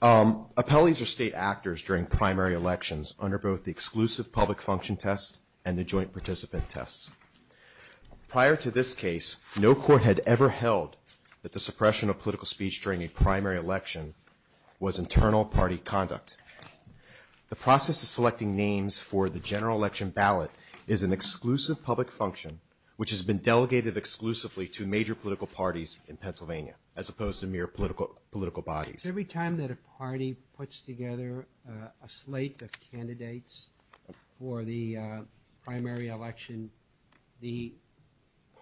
1. Appellees are state actors during primary elections under both the Exclusive Public Function which has been delegated exclusively to major political parties in Pennsylvania as opposed to mere political bodies. Every time that a party puts together a slate of candidates for the primary election, the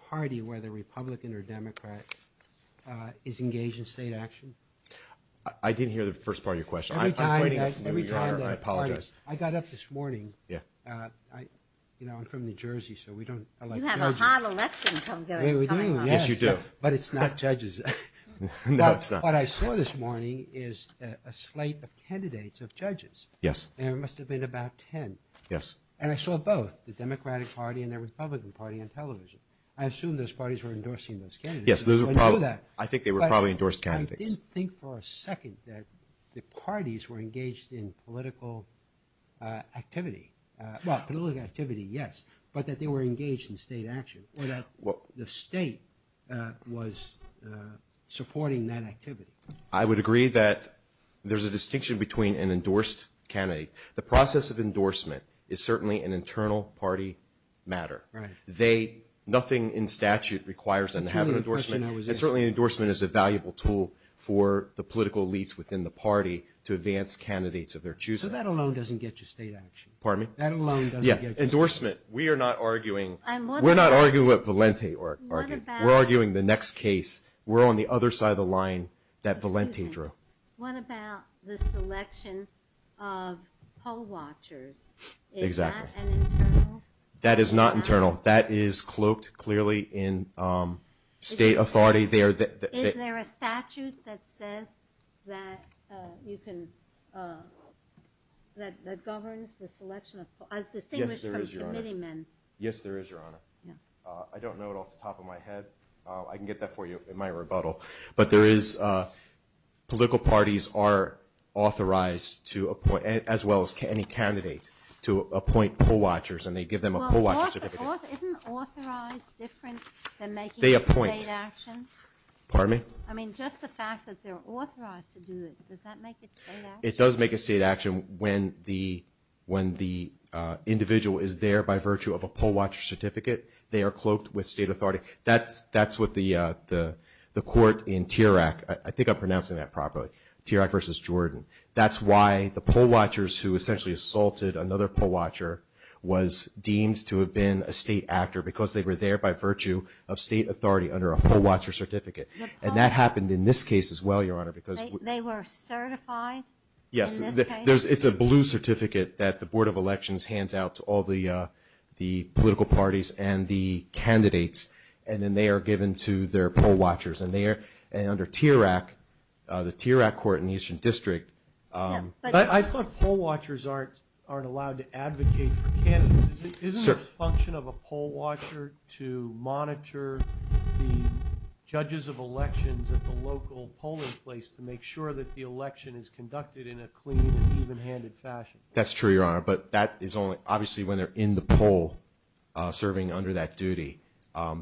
party, whether Republican or Democrat, is engaged in state action? I didn't hear the first part of your question. I'm waiting for you, Your Honor. I apologize. Every time that a party – I got up this morning. I'm from New Jersey so we don't elect judges. You have a hot election coming up. We do, yes. Yes, you do. But it's not judges. No, it's not. What I saw this morning is a slate of candidates of judges. Yes. And it must have been about 10. Yes. And I saw both, the Democratic Party and the Republican Party on television. I assume those parties were endorsing those candidates. Yes, there were probably – I think they were probably endorsed candidates. But I didn't think for a second that the parties were engaged in political activity. Well, political activity, yes, but that they were engaged in state action, or that the state was supporting that activity. I would agree that there's a distinction between an endorsed candidate. The process of endorsement is certainly an internal party matter. Right. They – nothing in statute requires them to have an endorsement. It's really the question I was asking. And certainly an endorsement is a valuable tool for the political elites within the party to advance candidates of their choosing. So that alone doesn't get you state action? Pardon me? That alone doesn't get you state action? Yeah. Endorsement. We are not arguing – What about – We're arguing the next case. We're on the other side of the line that Valenti drew. Excuse me. What about the selection of poll watchers? Exactly. Is that an internal part of – That is not internal. That is cloaked, clearly, in state authority. Is there a statute that says that you can – that governs the selection of – as distinguished from committee men? Yes, there is, Your Honor. I'm not a candidate. I'm not a candidate. I'm not a candidate. I'm not a candidate. I'm not a candidate. I can get that for you in my rebuttal. But there is – political parties are authorized to appoint – as well as any candidate to appoint poll watchers. And they give them a poll watcher certificate. Well, isn't authorized different than making it state action? They appoint. Pardon me? I mean, just the fact that they're authorized to do it, does that make it state action? It does make it state action when the individual is there by virtue of a poll watcher certificate. They are cloaked with state authority. That's what the court in T.R.A.C. – I think I'm pronouncing that properly – T.R.A.C. v. Jordan. That's why the poll watchers who essentially assaulted another poll watcher was deemed to have been a state actor because they were there by virtue of state authority under a poll watcher certificate. And that happened in this case as well, Your Honor, because – They were certified in this case? Yes. It's a blue certificate that the Board of Elections hands out to all the political parties and the candidates, and then they are given to their poll watchers. And under T.R.A.C., the T.R.A.C. court in the Eastern District – But I thought poll watchers aren't allowed to advocate for candidates. Isn't it a function of a poll watcher to monitor the judges of elections at the local polling place to make sure that the election is conducted in a clean and even-handed fashion? That's true, Your Honor. But that is only – obviously, when they're in the poll serving under that duty,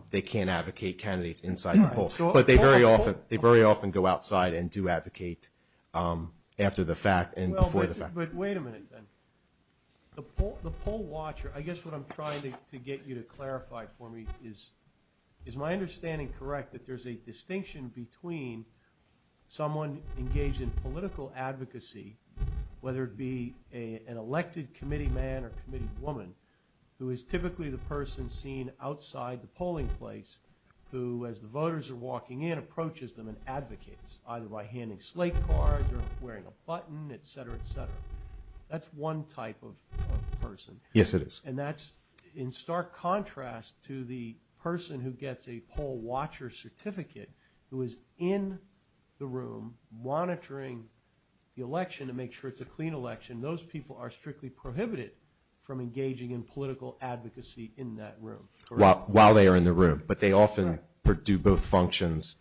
they can't advocate candidates inside the poll. But they very often go outside and do advocate after the fact and before the fact. But wait a minute, then. The poll watcher – I guess what I'm trying to get you to clarify for me is, is my understanding correct that there's a distinction between someone engaged in political advocacy, whether it be an elected committee man or committee woman, who is typically the person seen outside the polling place who, as the voters are walking in, approaches them and advocates, either by handing slate cards or wearing a button, et cetera, et cetera. That's one type of person. Yes, it is. And that's in stark contrast to the person who gets a poll watcher certificate who is in the room monitoring the election to make sure it's a clean election. Those people are strictly prohibited from engaging in political advocacy in that room. While they are in the room. But they often do both functions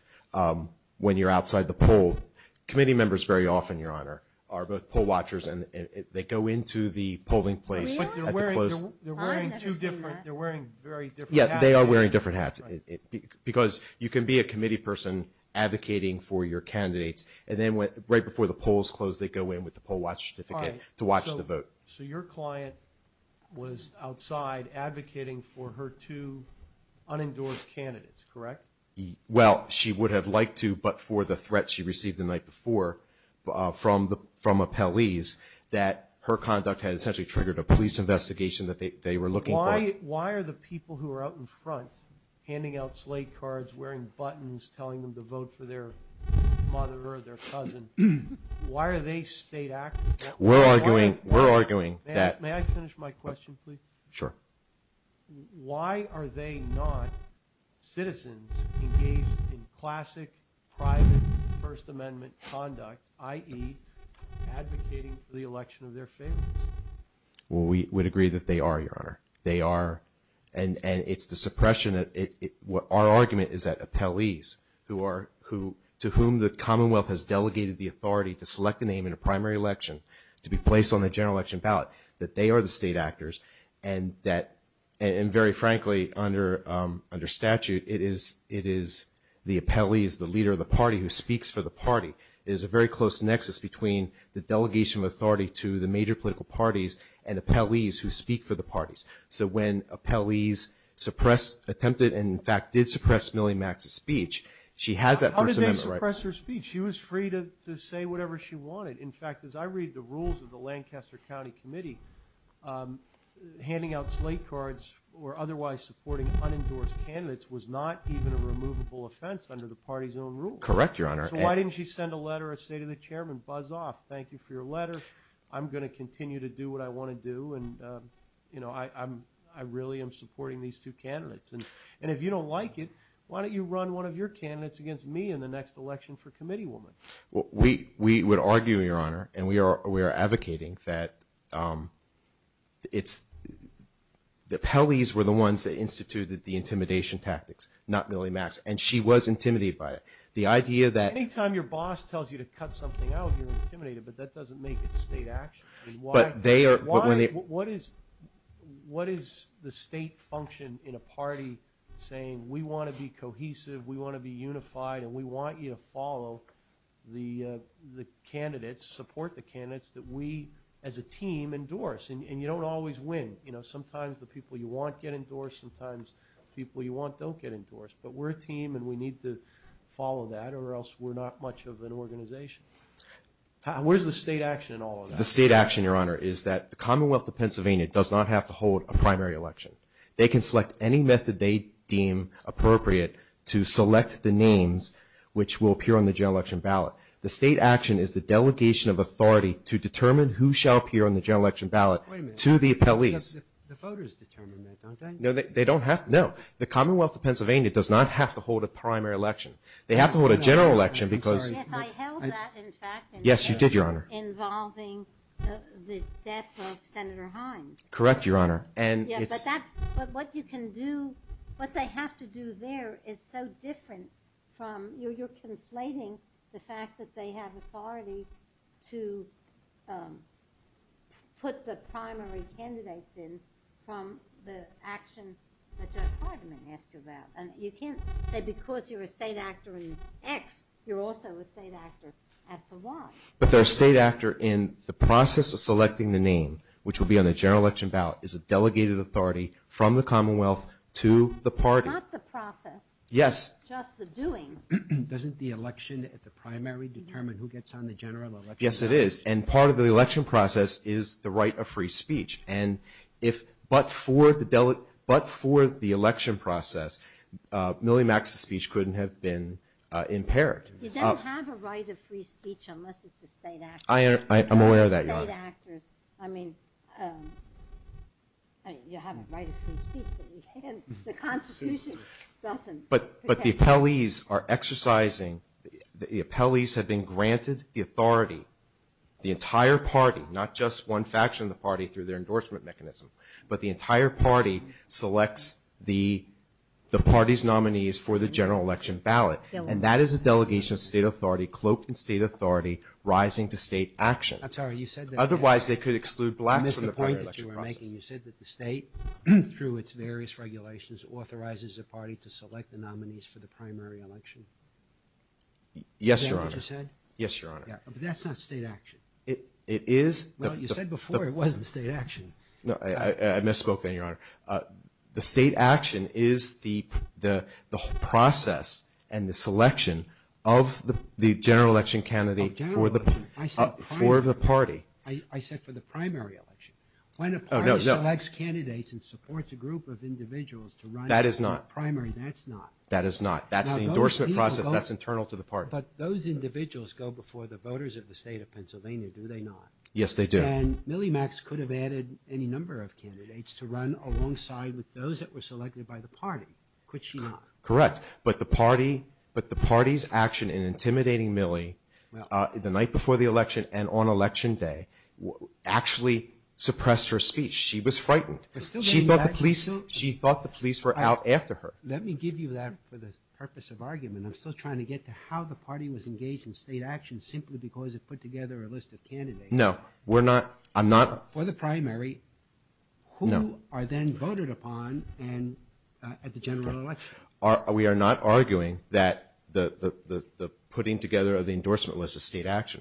when you're outside the poll. Committee members very often, Your Honor, are both poll watchers and they go into the polling place at the close – But they're wearing two different – they're wearing very different hats. Yes, they are wearing different hats. Because you can be a committee person advocating for your candidates and then right before the polls close they go in with the poll watcher certificate to watch the vote. So your client was outside advocating for her two unendorsed candidates, correct? Well, she would have liked to, but for the threat she received the night before from appellees that her conduct had essentially triggered a police investigation that they were looking for. Why are the people who are out in front handing out slate cards, wearing buttons, telling them to vote for their mother or their cousin, why are they state activists? We're arguing – we're arguing that – May I finish my question, please? Sure. Why are they not citizens engaged in classic private First Amendment conduct, i.e. advocating for the election of their favorites? Well, we would agree that they are, Your Honor. They are. And it's the suppression – our argument is that appellees who are – to whom the Commonwealth has delegated the authority to select a name in a primary election to be placed on the general election ballot, that they are the state actors and that – and very frankly, under statute, it is the appellees, the leader of the party who speaks for the party. There's a very close nexus between the delegation of authority to the major political parties and appellees who speak for the parties. So when appellees suppress – attempted and, in fact, did suppress Milly Max's speech, she has that First Amendment right. How did they suppress her speech? She was free to say whatever she wanted. In fact, as I read the rules of the Lancaster County Committee, handing out slate cards or otherwise supporting unendorsed candidates was not even a removable offense under the party's own rules. Correct, Your Honor. So why didn't she send a letter or say to the chairman, buzz off, thank you for your and, you know, I really am supporting these two candidates. And if you don't like it, why don't you run one of your candidates against me in the next election for committee woman? We would argue, Your Honor, and we are advocating that it's – the appellees were the ones that instituted the intimidation tactics, not Milly Max. And she was intimidated by it. The idea that – Any time your boss tells you to cut something out, you're intimidated, but that doesn't make it state action. I mean, why – What is – what is the state function in a party saying, we want to be cohesive, we want to be unified, and we want you to follow the candidates, support the candidates that we as a team endorse? And you don't always win. You know, sometimes the people you want get endorsed, sometimes the people you want don't get endorsed. But we're a team and we need to follow that or else we're not much of an organization. Where's the state action in all of that? The state action, Your Honor, is that the Commonwealth of Pennsylvania does not have to hold a primary election. They can select any method they deem appropriate to select the names which will appear on the general election ballot. The state action is the delegation of authority to determine who shall appear on the general election ballot to the appellees. Wait a minute. Because the voters determine that, don't they? No, they don't have – no. The Commonwealth of Pennsylvania does not have to hold a primary election. They have to hold a general election because – Yes, I held that, in fact. Yes, you did, Your Honor. Involving the death of Senator Hines. Correct, Your Honor. And it's – Yes, but that – but what you can do – what they have to do there is so different from – you're conflating the fact that they have authority to put the primary candidates in from the action that Judge Hardiman asked you about. And you can't say because you're a state actor in X, you're also a state actor as to Y. But they're a state actor in the process of selecting the name, which will be on the general election ballot, is a delegated authority from the Commonwealth to the party. That's not the process. Yes. It's just the doing. Doesn't the election at the primary determine who gets on the general election ballot? Yes, it is. And part of the election process is the right of free speech. And if – but for the election process, Milly Max's speech couldn't have been impaired. You don't have a right of free speech unless it's a state actor. I'm aware of that, Your Honor. State actors – I mean, you have a right of free speech, but you can't – the Constitution doesn't. But the appellees are exercising – the appellees have been granted the authority, the entire party, not just one faction of the party through their endorsement mechanism, but the entire party selects the party's nominees for the general election ballot. They will. And that is a delegation of state authority cloaked in state authority rising to state action. I'm sorry. You said that – Otherwise, they could exclude blacks from the primary election process. I missed the point that you were making. You said that the state, through its various regulations, authorizes a party to select the nominees for the primary election. Yes, Your Honor. Is that what you said? Yes, Your Honor. Yeah. But that's not state action. It is – Well, you said before it wasn't state action. No. I misspoke there, Your Honor. The state action is the process and the selection of the general election candidate for the – Oh, general election. I said primary. For the party. I said for the primary election. Oh, no, no. When a party selects candidates and supports a group of individuals to run – That is not – For a primary, that's not. That is not. Now, those people go – That's the endorsement process. That's internal to the party. But those individuals go before the voters of the state of Pennsylvania, do they not? Yes, they do. And Millie Max could have added any number of candidates to run alongside with those that were selected by the party, could she not? Correct. But the party's action in intimidating Millie the night before the election and on election day actually suppressed her speech. She was frightened. She thought the police were out after her. Let me give you that for the purpose of argument. I'm still trying to get to how the party was engaged in state action simply because it put together a list of candidates. No. We're not – I'm not – For the primary, who are then voted upon at the general election? We are not arguing that the putting together of the endorsement list is state action.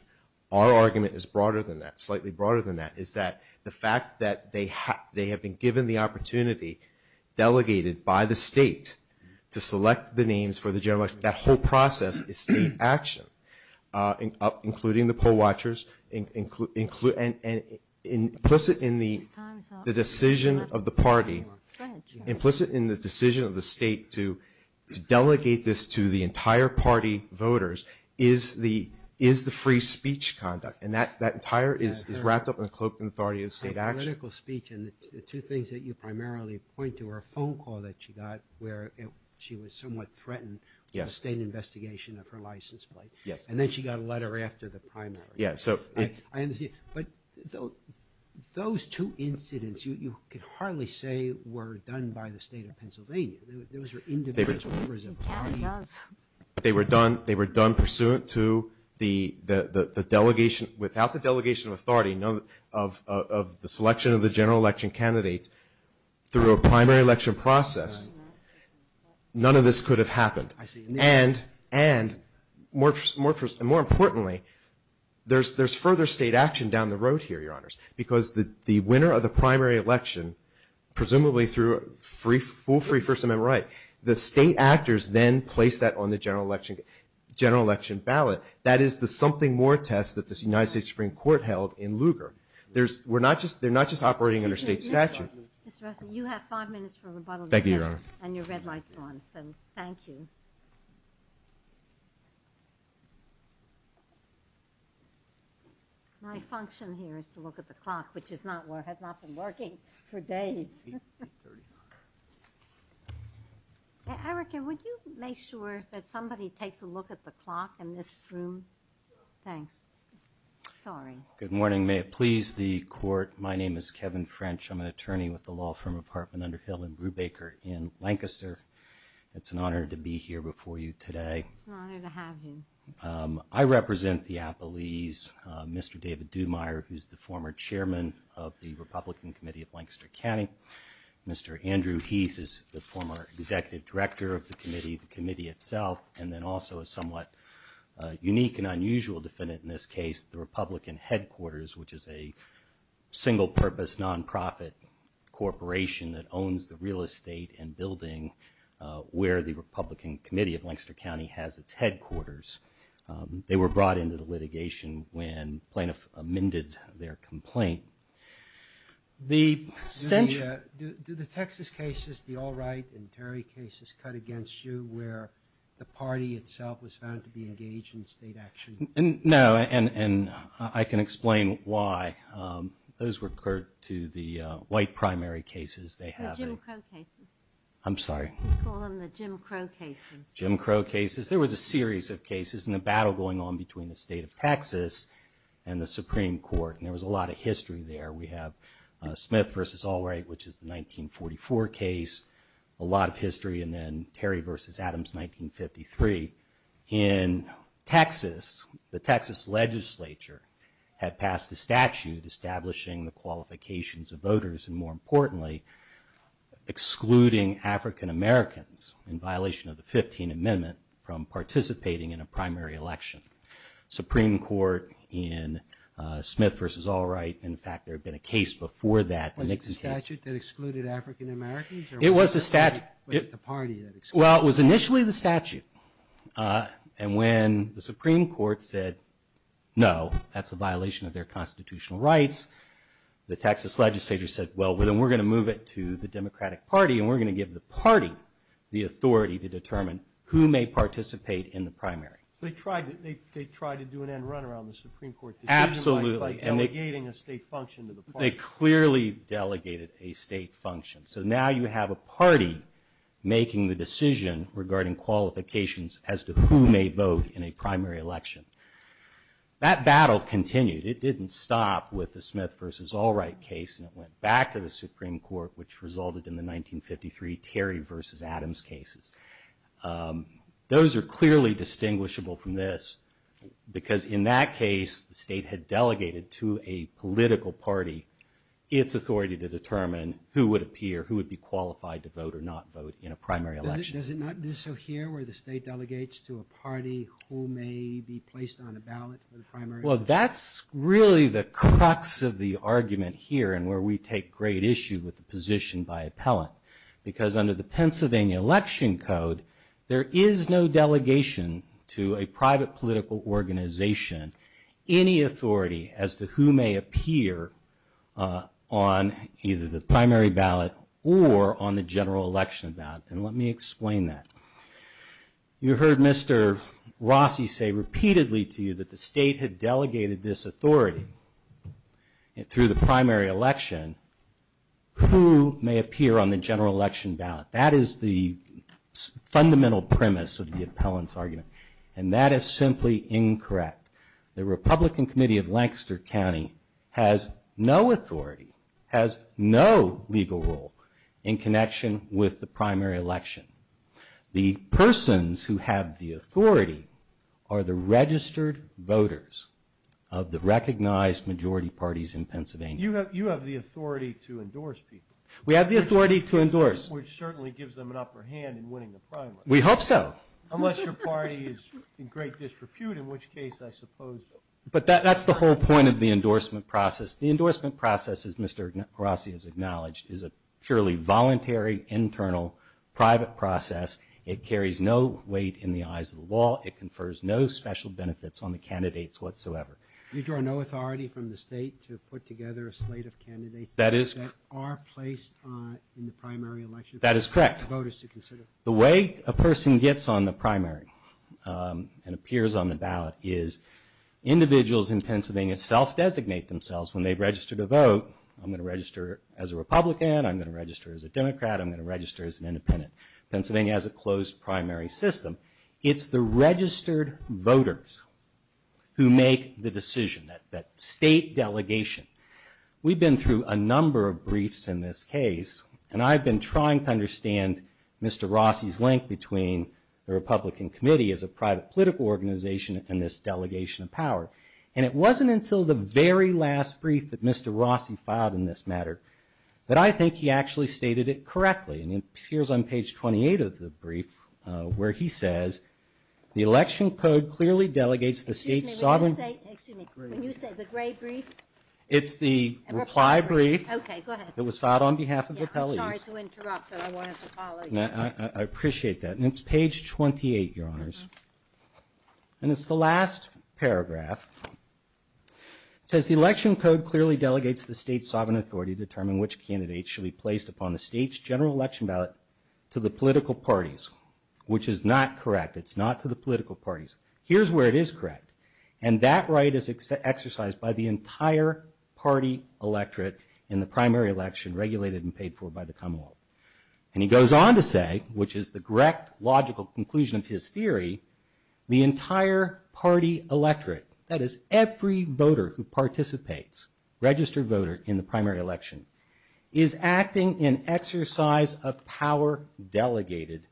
Our argument is broader than that, slightly broader than that, is that the fact that they have been given the opportunity, delegated by the state, to select the names for the process is state action, including the poll watchers, and implicit in the decision of the party, implicit in the decision of the state to delegate this to the entire party voters is the free speech conduct. And that entire is wrapped up in the cloak and authority of state action. Political speech and the two things that you primarily point to are a phone call that she got where she was somewhat threatened with a state investigation of her license plate. Yes. And then she got a letter after the primary. Yeah, so – I understand. But those two incidents you could hardly say were done by the state of Pennsylvania. Those were individual members of the party. They were done pursuant to the delegation – without the delegation of authority of the selection of the general election candidates through a primary election process, none of this could have happened. I see. And more importantly, there's further state action down the road here, Your Honors, because the winner of the primary election, presumably through full free First Amendment right, the state actors then place that on the general election ballot. That is the something more test that the United States Supreme Court held in Lugar. There's – we're not just – they're not just operating under state statute. Mr. Rossi, you have five minutes for rebuttal. Thank you, Your Honor. And your red light's on, so thank you. My function here is to look at the clock, which is not – has not been working for days. Erica, would you make sure that somebody takes a look at the clock in this room? Thanks. Sorry. Good morning. May it please the Court. My name is Kevin French. I'm an attorney with the law firm of Hartman Underhill and Brubaker in Lancaster. It's an honor to be here before you today. It's an honor to have you. I represent the Appalese, Mr. David Duhmeier, who's the former chairman of the Republican Committee of Lancaster County. Mr. Andrew Heath is the former executive director of the committee, the committee itself, and then also a somewhat unique and unusual defendant in this case, the Republican Headquarters, which is a single-purpose, nonprofit corporation that owns the real estate and building where the Republican Committee of Lancaster County has its headquarters. They were brought into the litigation when plaintiff amended their complaint. Do the Texas cases, the Allwright and Terry cases, cut against you where the party itself was found to be engaged in state action? No, and I can explain why. Those were, Curt, to the white primary cases. The Jim Crow cases. I'm sorry. We call them the Jim Crow cases. Jim Crow cases. There was a series of cases and a battle going on between the state of Texas and the Supreme Court. And there was a lot of history there. We have Smith v. Allwright, which is the 1944 case, a lot of history. And then Terry v. Adams, 1953. In Texas, the Texas legislature had passed a statute establishing the qualifications of voters and, more importantly, excluding African Americans in violation of the 15th Amendment from participating in a primary election. Supreme Court in Smith v. Allwright. In fact, there had been a case before that. Was it the statute that excluded African Americans? It was the statute. Or was it the party that excluded them? Well, it was initially the statute. And when the Supreme Court said, no, that's a violation of their constitutional rights, the Texas legislature said, well, then we're going to move it to the Democratic Party and we're going to give the party the authority to determine who may participate in the primary. So they tried to do an end-runner on the Supreme Court decision by delegating a state function to the party. They clearly delegated a state function. So now you have a party making the decision regarding qualifications as to who may vote in a primary election. That battle continued. It didn't stop with the Smith v. Allwright case, and it went back to the Supreme Court, which resulted in the 1953 Terry v. Adams cases. Those are clearly distinguishable from this because in that case, the state had delegated to a political party its authority to determine who would appear, who would be qualified to vote or not vote in a primary election. Does it not do so here where the state delegates to a party who may be placed on a ballot for the primary? Well, that's really the crux of the argument here and where we take great issue with the position by appellant because under the Pennsylvania Election Code, there is no delegation to a private political organization, any authority as to who may appear on either the primary ballot or on the general election ballot. And let me explain that. You heard Mr. Rossi say repeatedly to you that the state had delegated this authority. Through the primary election, who may appear on the general election ballot? That is the fundamental premise of the appellant's argument, and that is simply incorrect. The Republican Committee of Lancaster County has no authority, has no legal role in connection with the primary election. The persons who have the authority are the registered voters of the recognized majority parties in Pennsylvania. You have the authority to endorse people. We have the authority to endorse. Which certainly gives them an upper hand in winning the primary. We hope so. Unless your party is in great disrepute, in which case I suppose. But that's the whole point of the endorsement process. The endorsement process, as Mr. Rossi has acknowledged, is a purely voluntary, internal, private process. It carries no weight in the eyes of the law. It confers no special benefits on the candidates whatsoever. You draw no authority from the state to put together a slate of candidates that are placed in the primary election. That is correct. For voters to consider. The way a person gets on the primary and appears on the ballot is individuals in Pennsylvania self-designate themselves when they register to vote. I'm going to register as a Republican. I'm going to register as a Democrat. I'm going to register as an independent. Pennsylvania has a closed primary system. It's the registered voters who make the decision. That state delegation. We've been through a number of briefs in this case. And I've been trying to understand Mr. Rossi's link between the Republican committee as a private political organization and this delegation of power. And it wasn't until the very last brief that Mr. Rossi filed in this matter that I think he actually stated it correctly. And here's on page 28 of the brief where he says, the election code clearly delegates the state sovereign. Excuse me. When you say the gray brief. It's the reply brief. Okay. Go ahead. It was filed on behalf of appellees. I'm sorry to interrupt, but I wanted to follow you. I appreciate that. And it's page 28, Your Honors. And it's the last paragraph. It says, the election code clearly delegates the state sovereign authority to determine which candidates should be placed upon the state's general election ballot to the political parties, which is not correct. It's not to the political parties. Here's where it is correct. And that right is exercised by the entire party electorate in the primary election regulated and paid for by the Commonwealth. And he goes on to say, which is the correct logical conclusion of his theory, the entire party electorate, that is every voter who participates, registered voter in the primary election, is acting in exercise of power delegated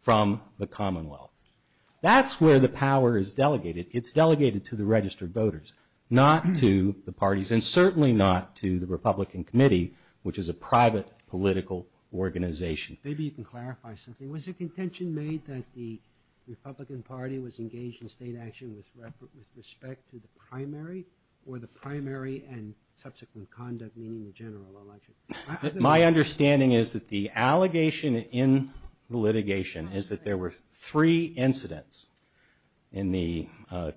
from the Commonwealth. That's where the power is delegated. It's delegated to the registered voters, not to the parties and certainly not to the Republican Committee, which is a private political organization. Maybe you can clarify something. Was the contention made that the Republican Party was engaged in state action with respect to the primary or the primary and subsequent conduct, meaning the general election? My understanding is that the allegation in the litigation is that there were three incidents in the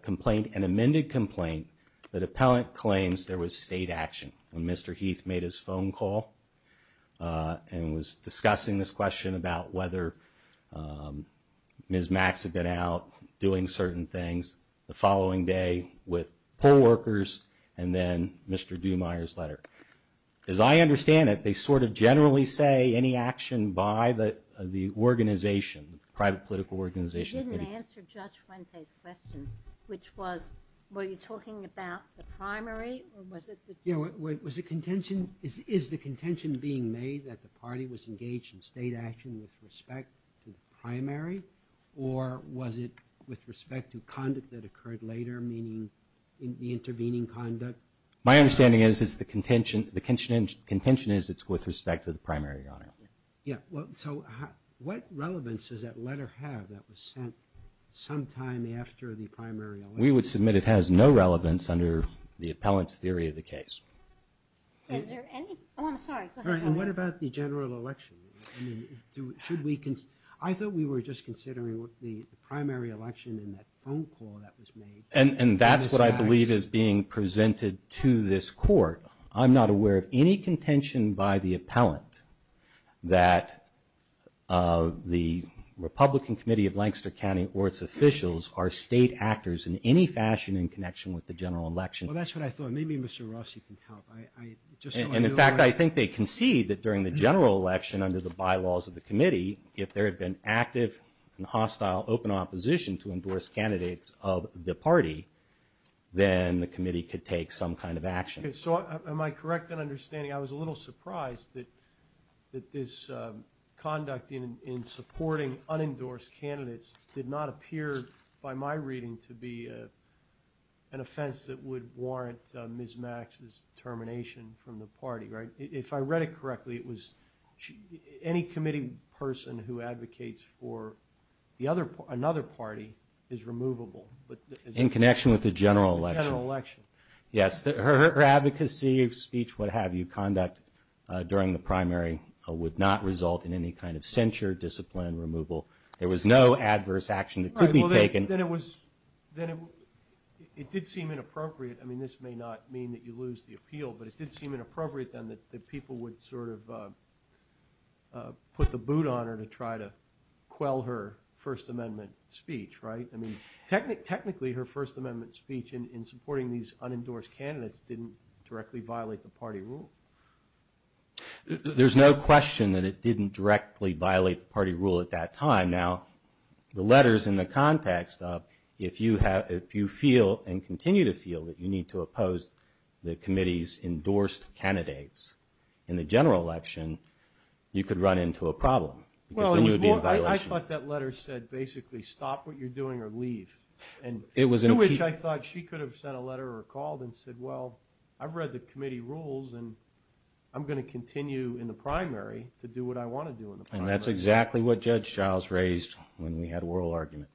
complaint, an amended complaint, that appellant claims there was state action. And Mr. Heath made his phone call and was discussing this question about whether Ms. Max had been out doing certain things the following day with poll workers and then Mr. Dumeier's letter. As I understand it, they sort of generally say any action by the organization, the private political organization. You didn't answer Judge Fuente's question, which was, were you talking about the primary or was it the primary? Was the contention, is the contention being made that the party was engaged in state action with respect to the primary or was it with respect to conduct that occurred later, meaning the intervening conduct? My understanding is it's the contention, the contention is it's with respect to the primary, Your Honor. Yeah, well, so what relevance does that letter have that was sent sometime after the primary election? We would submit it has no relevance under the appellant's theory of the case. And what about the general election? I thought we were just considering the primary election and that phone call that was made. And that's what I believe is being presented to this court. I'm not aware of any contention by the appellant that the Republican Committee of Lancaster County or its officials are state actors in any fashion in connection with the general election. Well, that's what I thought. Maybe Mr. Rossi can help. And in fact, I think they concede that during the general election under the bylaws of the committee, if there had been active and hostile open opposition to endorse candidates of the party, then the committee could take some kind of action. Am I correct in understanding? I was a little surprised that this conduct in supporting unendorsed candidates did not appear by my reading to be an offense that would warrant Ms. Max's termination from the party, right? If I read it correctly, it was any committee person who advocates for another party is removable. In connection with the general election. Yes, her advocacy of speech, what have you, conduct during the primary would not result in any kind of censure, discipline, removal. There was no adverse action that could be taken. It did seem inappropriate. I mean, this may not mean that you lose the appeal, but it did seem inappropriate then that people would sort of put the boot on her to try to quell her First Amendment speech, right? I mean, technically her First Amendment speech in supporting these unendorsed candidates didn't directly violate the party rule. There's no question that it didn't directly violate the party rule at that time. Now, the letters in the context of if you feel and continue to feel that you need to oppose the committee's endorsed candidates in the general election, you could run into a problem. Well, I thought that letter said basically stop what you're doing or leave. And to which I thought she could have sent a letter or called and said, well, I've read the committee rules and I'm going to continue in the primary to do what I want to do in the primary. And that's exactly what Judge Giles raised when we had oral argument,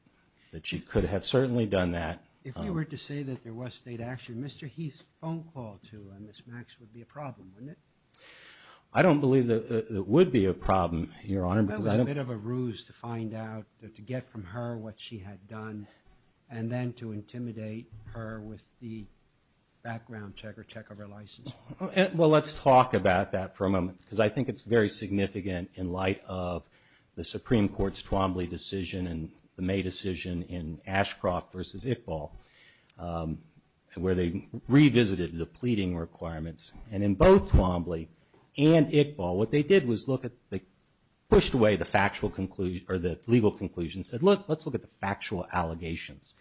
that she could have certainly done that. If you were to say that there was state action, Mr. Heath's phone call to Ms. Max would be a problem, wouldn't it? I don't believe that it would be a problem, Your Honor. That was a bit of a ruse to find out, to get from her what she had done and then to intimidate her with the background check or check of her license. Well, let's talk about that for a moment because I think it's very significant in light of the Supreme Court's Twombly decision and the May decision in Ashcroft versus Iqbal, where they revisited the pleading requirements. And in both Twombly and Iqbal, what they did was they pushed away the legal conclusion and said, look, let's look at the factual allegations.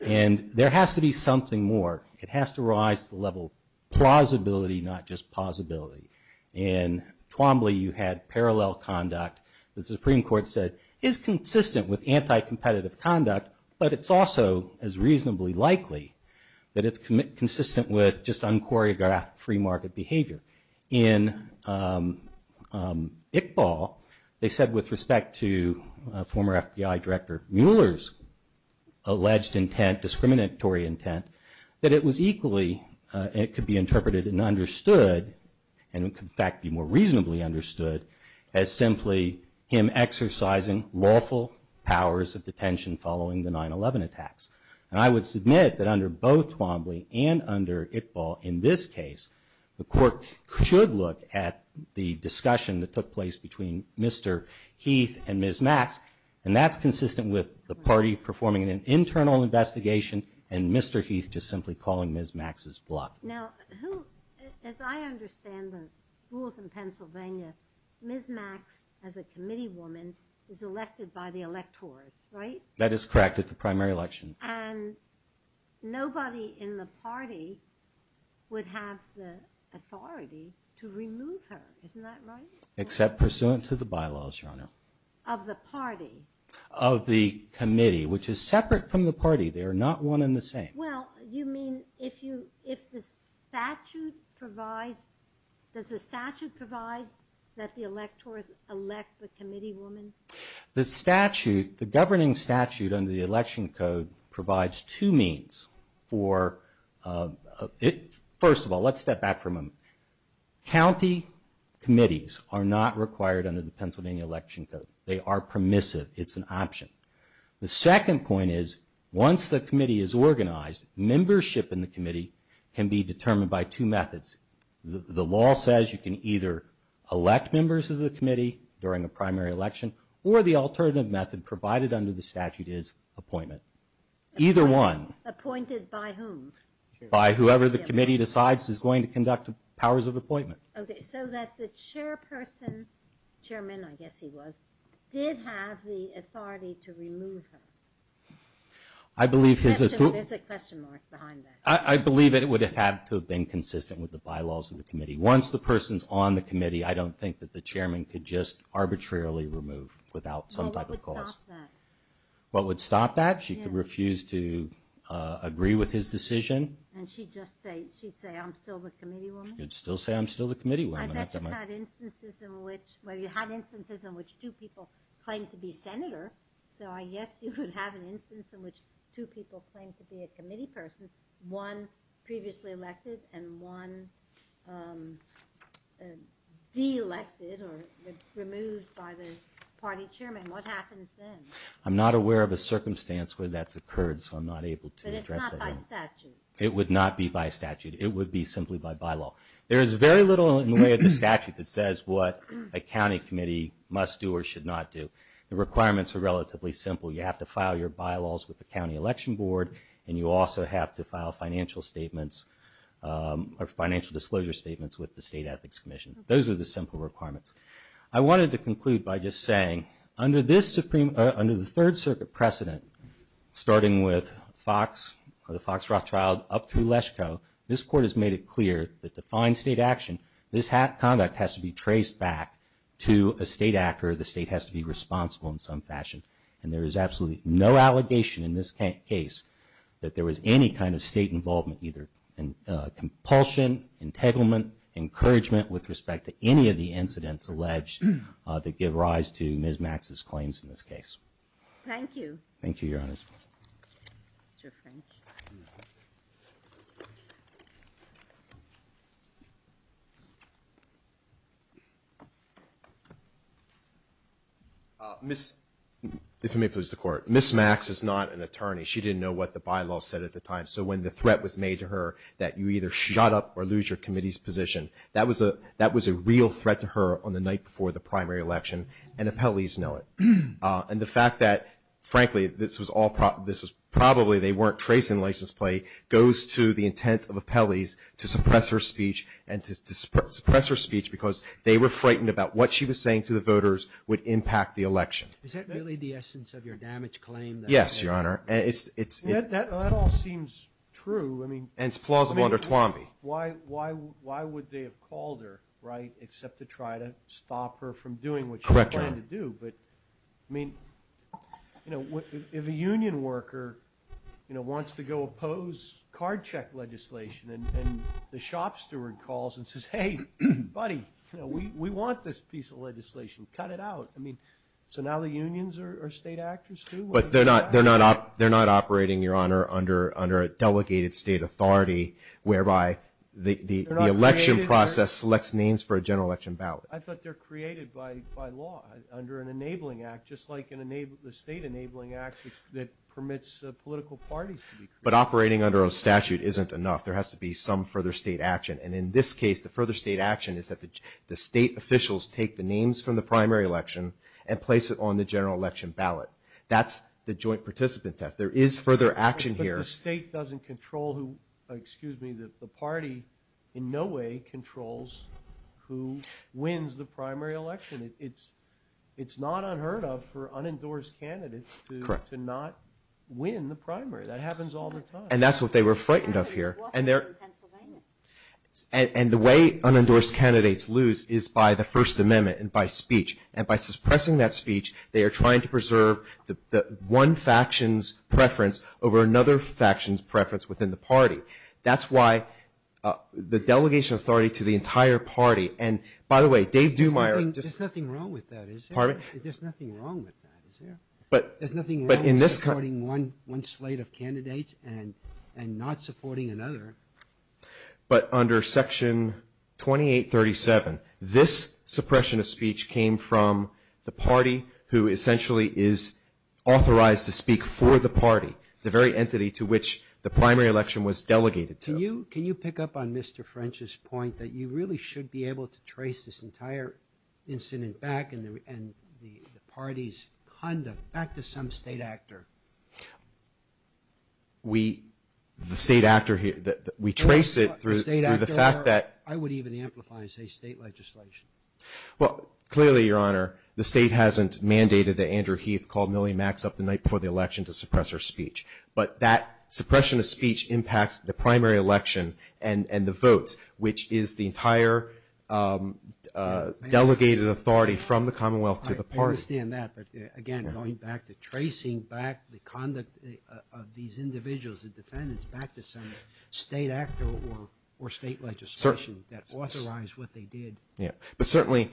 And there has to be something more. It has to rise to the level of plausibility, not just plausibility. In Twombly, you had parallel conduct. The Supreme Court said it's consistent with anti-competitive conduct, but it's also as reasonably likely that it's consistent with just unchoreographed free market behavior. In Iqbal, they said with respect to former FBI Director Mueller's alleged intent, discriminatory intent, that it was equally, it could be interpreted and understood, and it could in fact be more reasonably understood, as simply him exercising lawful powers of detention following the 9-11 attacks. And I would submit that under both Twombly and under Iqbal in this case, the court should look at the discussion that took place between Mr. Heath and Ms. Max, and that's consistent with the party performing an internal investigation and Mr. Heath just simply calling Ms. Max's bluff. Now, who, as I understand the rules in Pennsylvania, Ms. Max, as a committee woman, is elected by the electors, right? That is correct, at the primary election. And nobody in the party would have the authority to remove her, isn't that right? Except pursuant to the bylaws, Your Honor. Of the party? Of the committee, which is separate from the party. They are not one and the same. Well, you mean if the statute provides, does the statute provide that the electors elect the committee woman? The statute, the governing statute under the election code provides two means for, first of all, let's step back for a moment. County committees are not required under the Pennsylvania election code. They are permissive. It's an option. The second point is, once the committee is organized, membership in the committee can be determined by two methods. The law says you can either elect members of the committee during a primary election or the alternative method provided under the statute is appointment. Either one. Appointed by whom? By whoever the committee decides is going to conduct powers of appointment. Okay, so that the chairperson, chairman I guess he was, did have the authority to remove her. There's a question mark behind that. I believe it would have had to have been consistent with the bylaws of the committee. Once the person's on the committee, I don't think that the chairman could just arbitrarily remove without some type of cause. Well, what would stop that? What would stop that? She could refuse to agree with his decision. And she'd just say, she'd say, I'm still the committee woman? She'd still say, I'm still the committee woman. I bet you had instances in which, well, you had instances in which two people claimed to be senator. So I guess you would have an instance in which two people claimed to be a committee person. One previously elected and one de-elected or removed by the party chairman. What happens then? I'm not aware of a circumstance where that's occurred, so I'm not able to address that. But it's not by statute. It would not be by statute. It would be simply by bylaw. There is very little in the way of the statute that says what a county committee must do or should not do. The requirements are relatively simple. You have to file your bylaws with the county election board, and you also have to file financial statements or financial disclosure statements with the state ethics commission. Those are the simple requirements. I wanted to conclude by just saying, under the Third Circuit precedent, starting with the Fox Roth trial up through Leshko, this Court has made it clear that to find state action, this conduct has to be traced back to a state actor, the state has to be responsible in some fashion. And there is absolutely no allegation in this case that there was any kind of state involvement either. Compulsion, entanglement, encouragement with respect to any of the incidents alleged that give rise to Ms. Max's claims in this case. Thank you, Your Honor. If you may, please, the Court. Ms. Max is not an attorney. She didn't know what the bylaws said at the time. So when the threat was made to her that you either shut up or lose your committee's position, that was a real threat to her on the night before the primary election, and appellees know it. And the fact that, frankly, this was probably they weren't tracing the license plate, goes to the intent of appellees to suppress her speech, and to suppress her speech because they were frightened about what she was saying to the voters would impact the election. Is that really the essence of your damage claim? Yes, Your Honor. That all seems true. Why would they have called her, right, except to try to stop her from doing what she was trying to do? But, I mean, you know, if a union worker, you know, wants to go oppose card check legislation, and the shop steward calls and says, hey, buddy, you know, we want this piece of legislation, cut it out. I mean, so now the unions are state actors, too? But they're not operating, Your Honor, under a delegated state authority whereby the election process selects names for a general election ballot. But operating under a statute isn't enough. There has to be some further state action, and in this case the further state action is that the state officials take the names from the primary election and place it on the general election ballot. That's the joint participant test. There is further action here. But the state doesn't control who, excuse me, the party in no way controls who wins the primary election. It's not unheard of for unendorsed candidates to not win the primary. That happens all the time. And that's what they were frightened of here. And the way unendorsed candidates lose is by the First Amendment and by speech. And by suppressing that speech, they are trying to preserve the one faction's preference over another faction's preference within the party. That's why the delegation of authority to the entire party, and by the way, Dave Dumeier. There's nothing wrong with that, is there? There's nothing wrong with supporting one slate of candidates and not supporting another. But under Section 2837, this suppression of speech came from the party who essentially is authorized to speak for the party, the very entity to which the primary election was delegated to. Can you pick up on Mr. French's point that you really should be able to trace this entire incident back and the party's conduct back to some state actor? We, the state actor here, we trace it through the fact that... I would even amplify and say state legislation. Well, clearly, Your Honor, the state hasn't mandated that Andrew Heath call Millie Maxx up the night before the election to suppress her speech. But that suppression of speech impacts the primary election and the votes, which is the entire delegated authority from the Commonwealth to the party. I understand that, but again, going back to tracing back the conduct of these individuals, the defendants, back to some state actor or state legislation that authorized what they did. Yeah, but certainly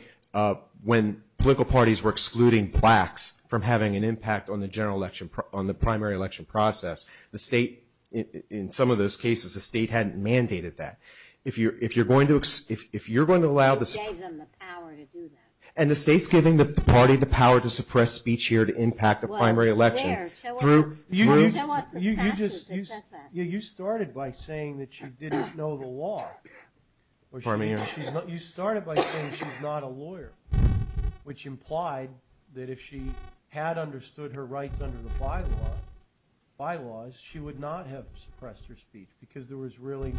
when political parties were excluding plaques from having an impact on the general election, on the primary election process, the state, in some of those cases, the state hadn't mandated that. If you're going to allow the... And the state's giving the party the power to suppress speech here to impact the primary election. You started by saying that she didn't know the law. You started by saying she's not a lawyer, which implied that if she had understood her rights under the bylaws, she would not have suppressed her speech because there was really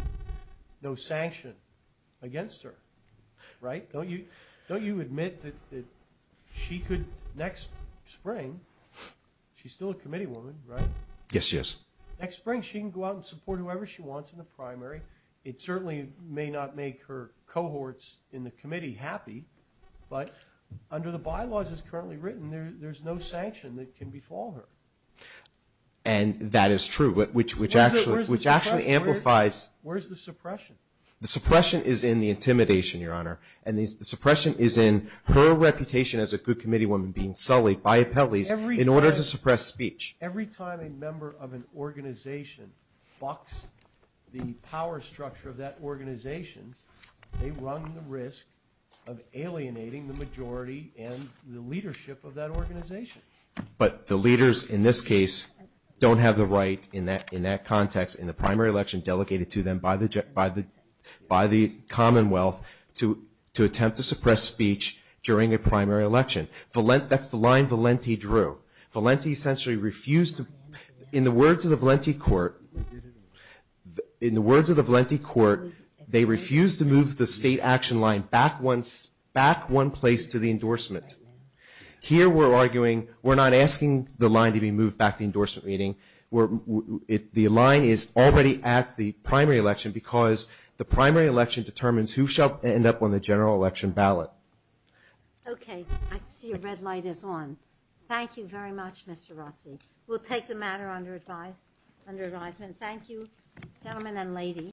no sanction against her, right? Don't you admit that she could, next spring, she's still a committee woman, right? Yes, she is. Next spring, she can go out and support whoever she wants in the primary. It certainly may not make her cohorts in the committee happy, but under the bylaws as currently written, there's no sanction that can befall her. And that is true, which actually amplifies... Where's the suppression? The suppression is in the intimidation, Your Honor, and the suppression is in her reputation as a good committee woman being sullied by appellees in order to suppress speech. Every time a member of an organization bucks the power structure of that organization, they run the risk of alienating the majority and the leadership of that organization. But the leaders in this case don't have the right in that context in the primary election delegated to them by the Commonwealth to attempt to suppress speech during a primary election. That's the line Valenti drew. In the words of the Valenti court, they refused to move the state action line back one place to the endorsement. Here we're arguing, we're not asking the line to be moved back to the endorsement meeting. The line is already at the primary election because the primary election determines who shall end up on the general election ballot.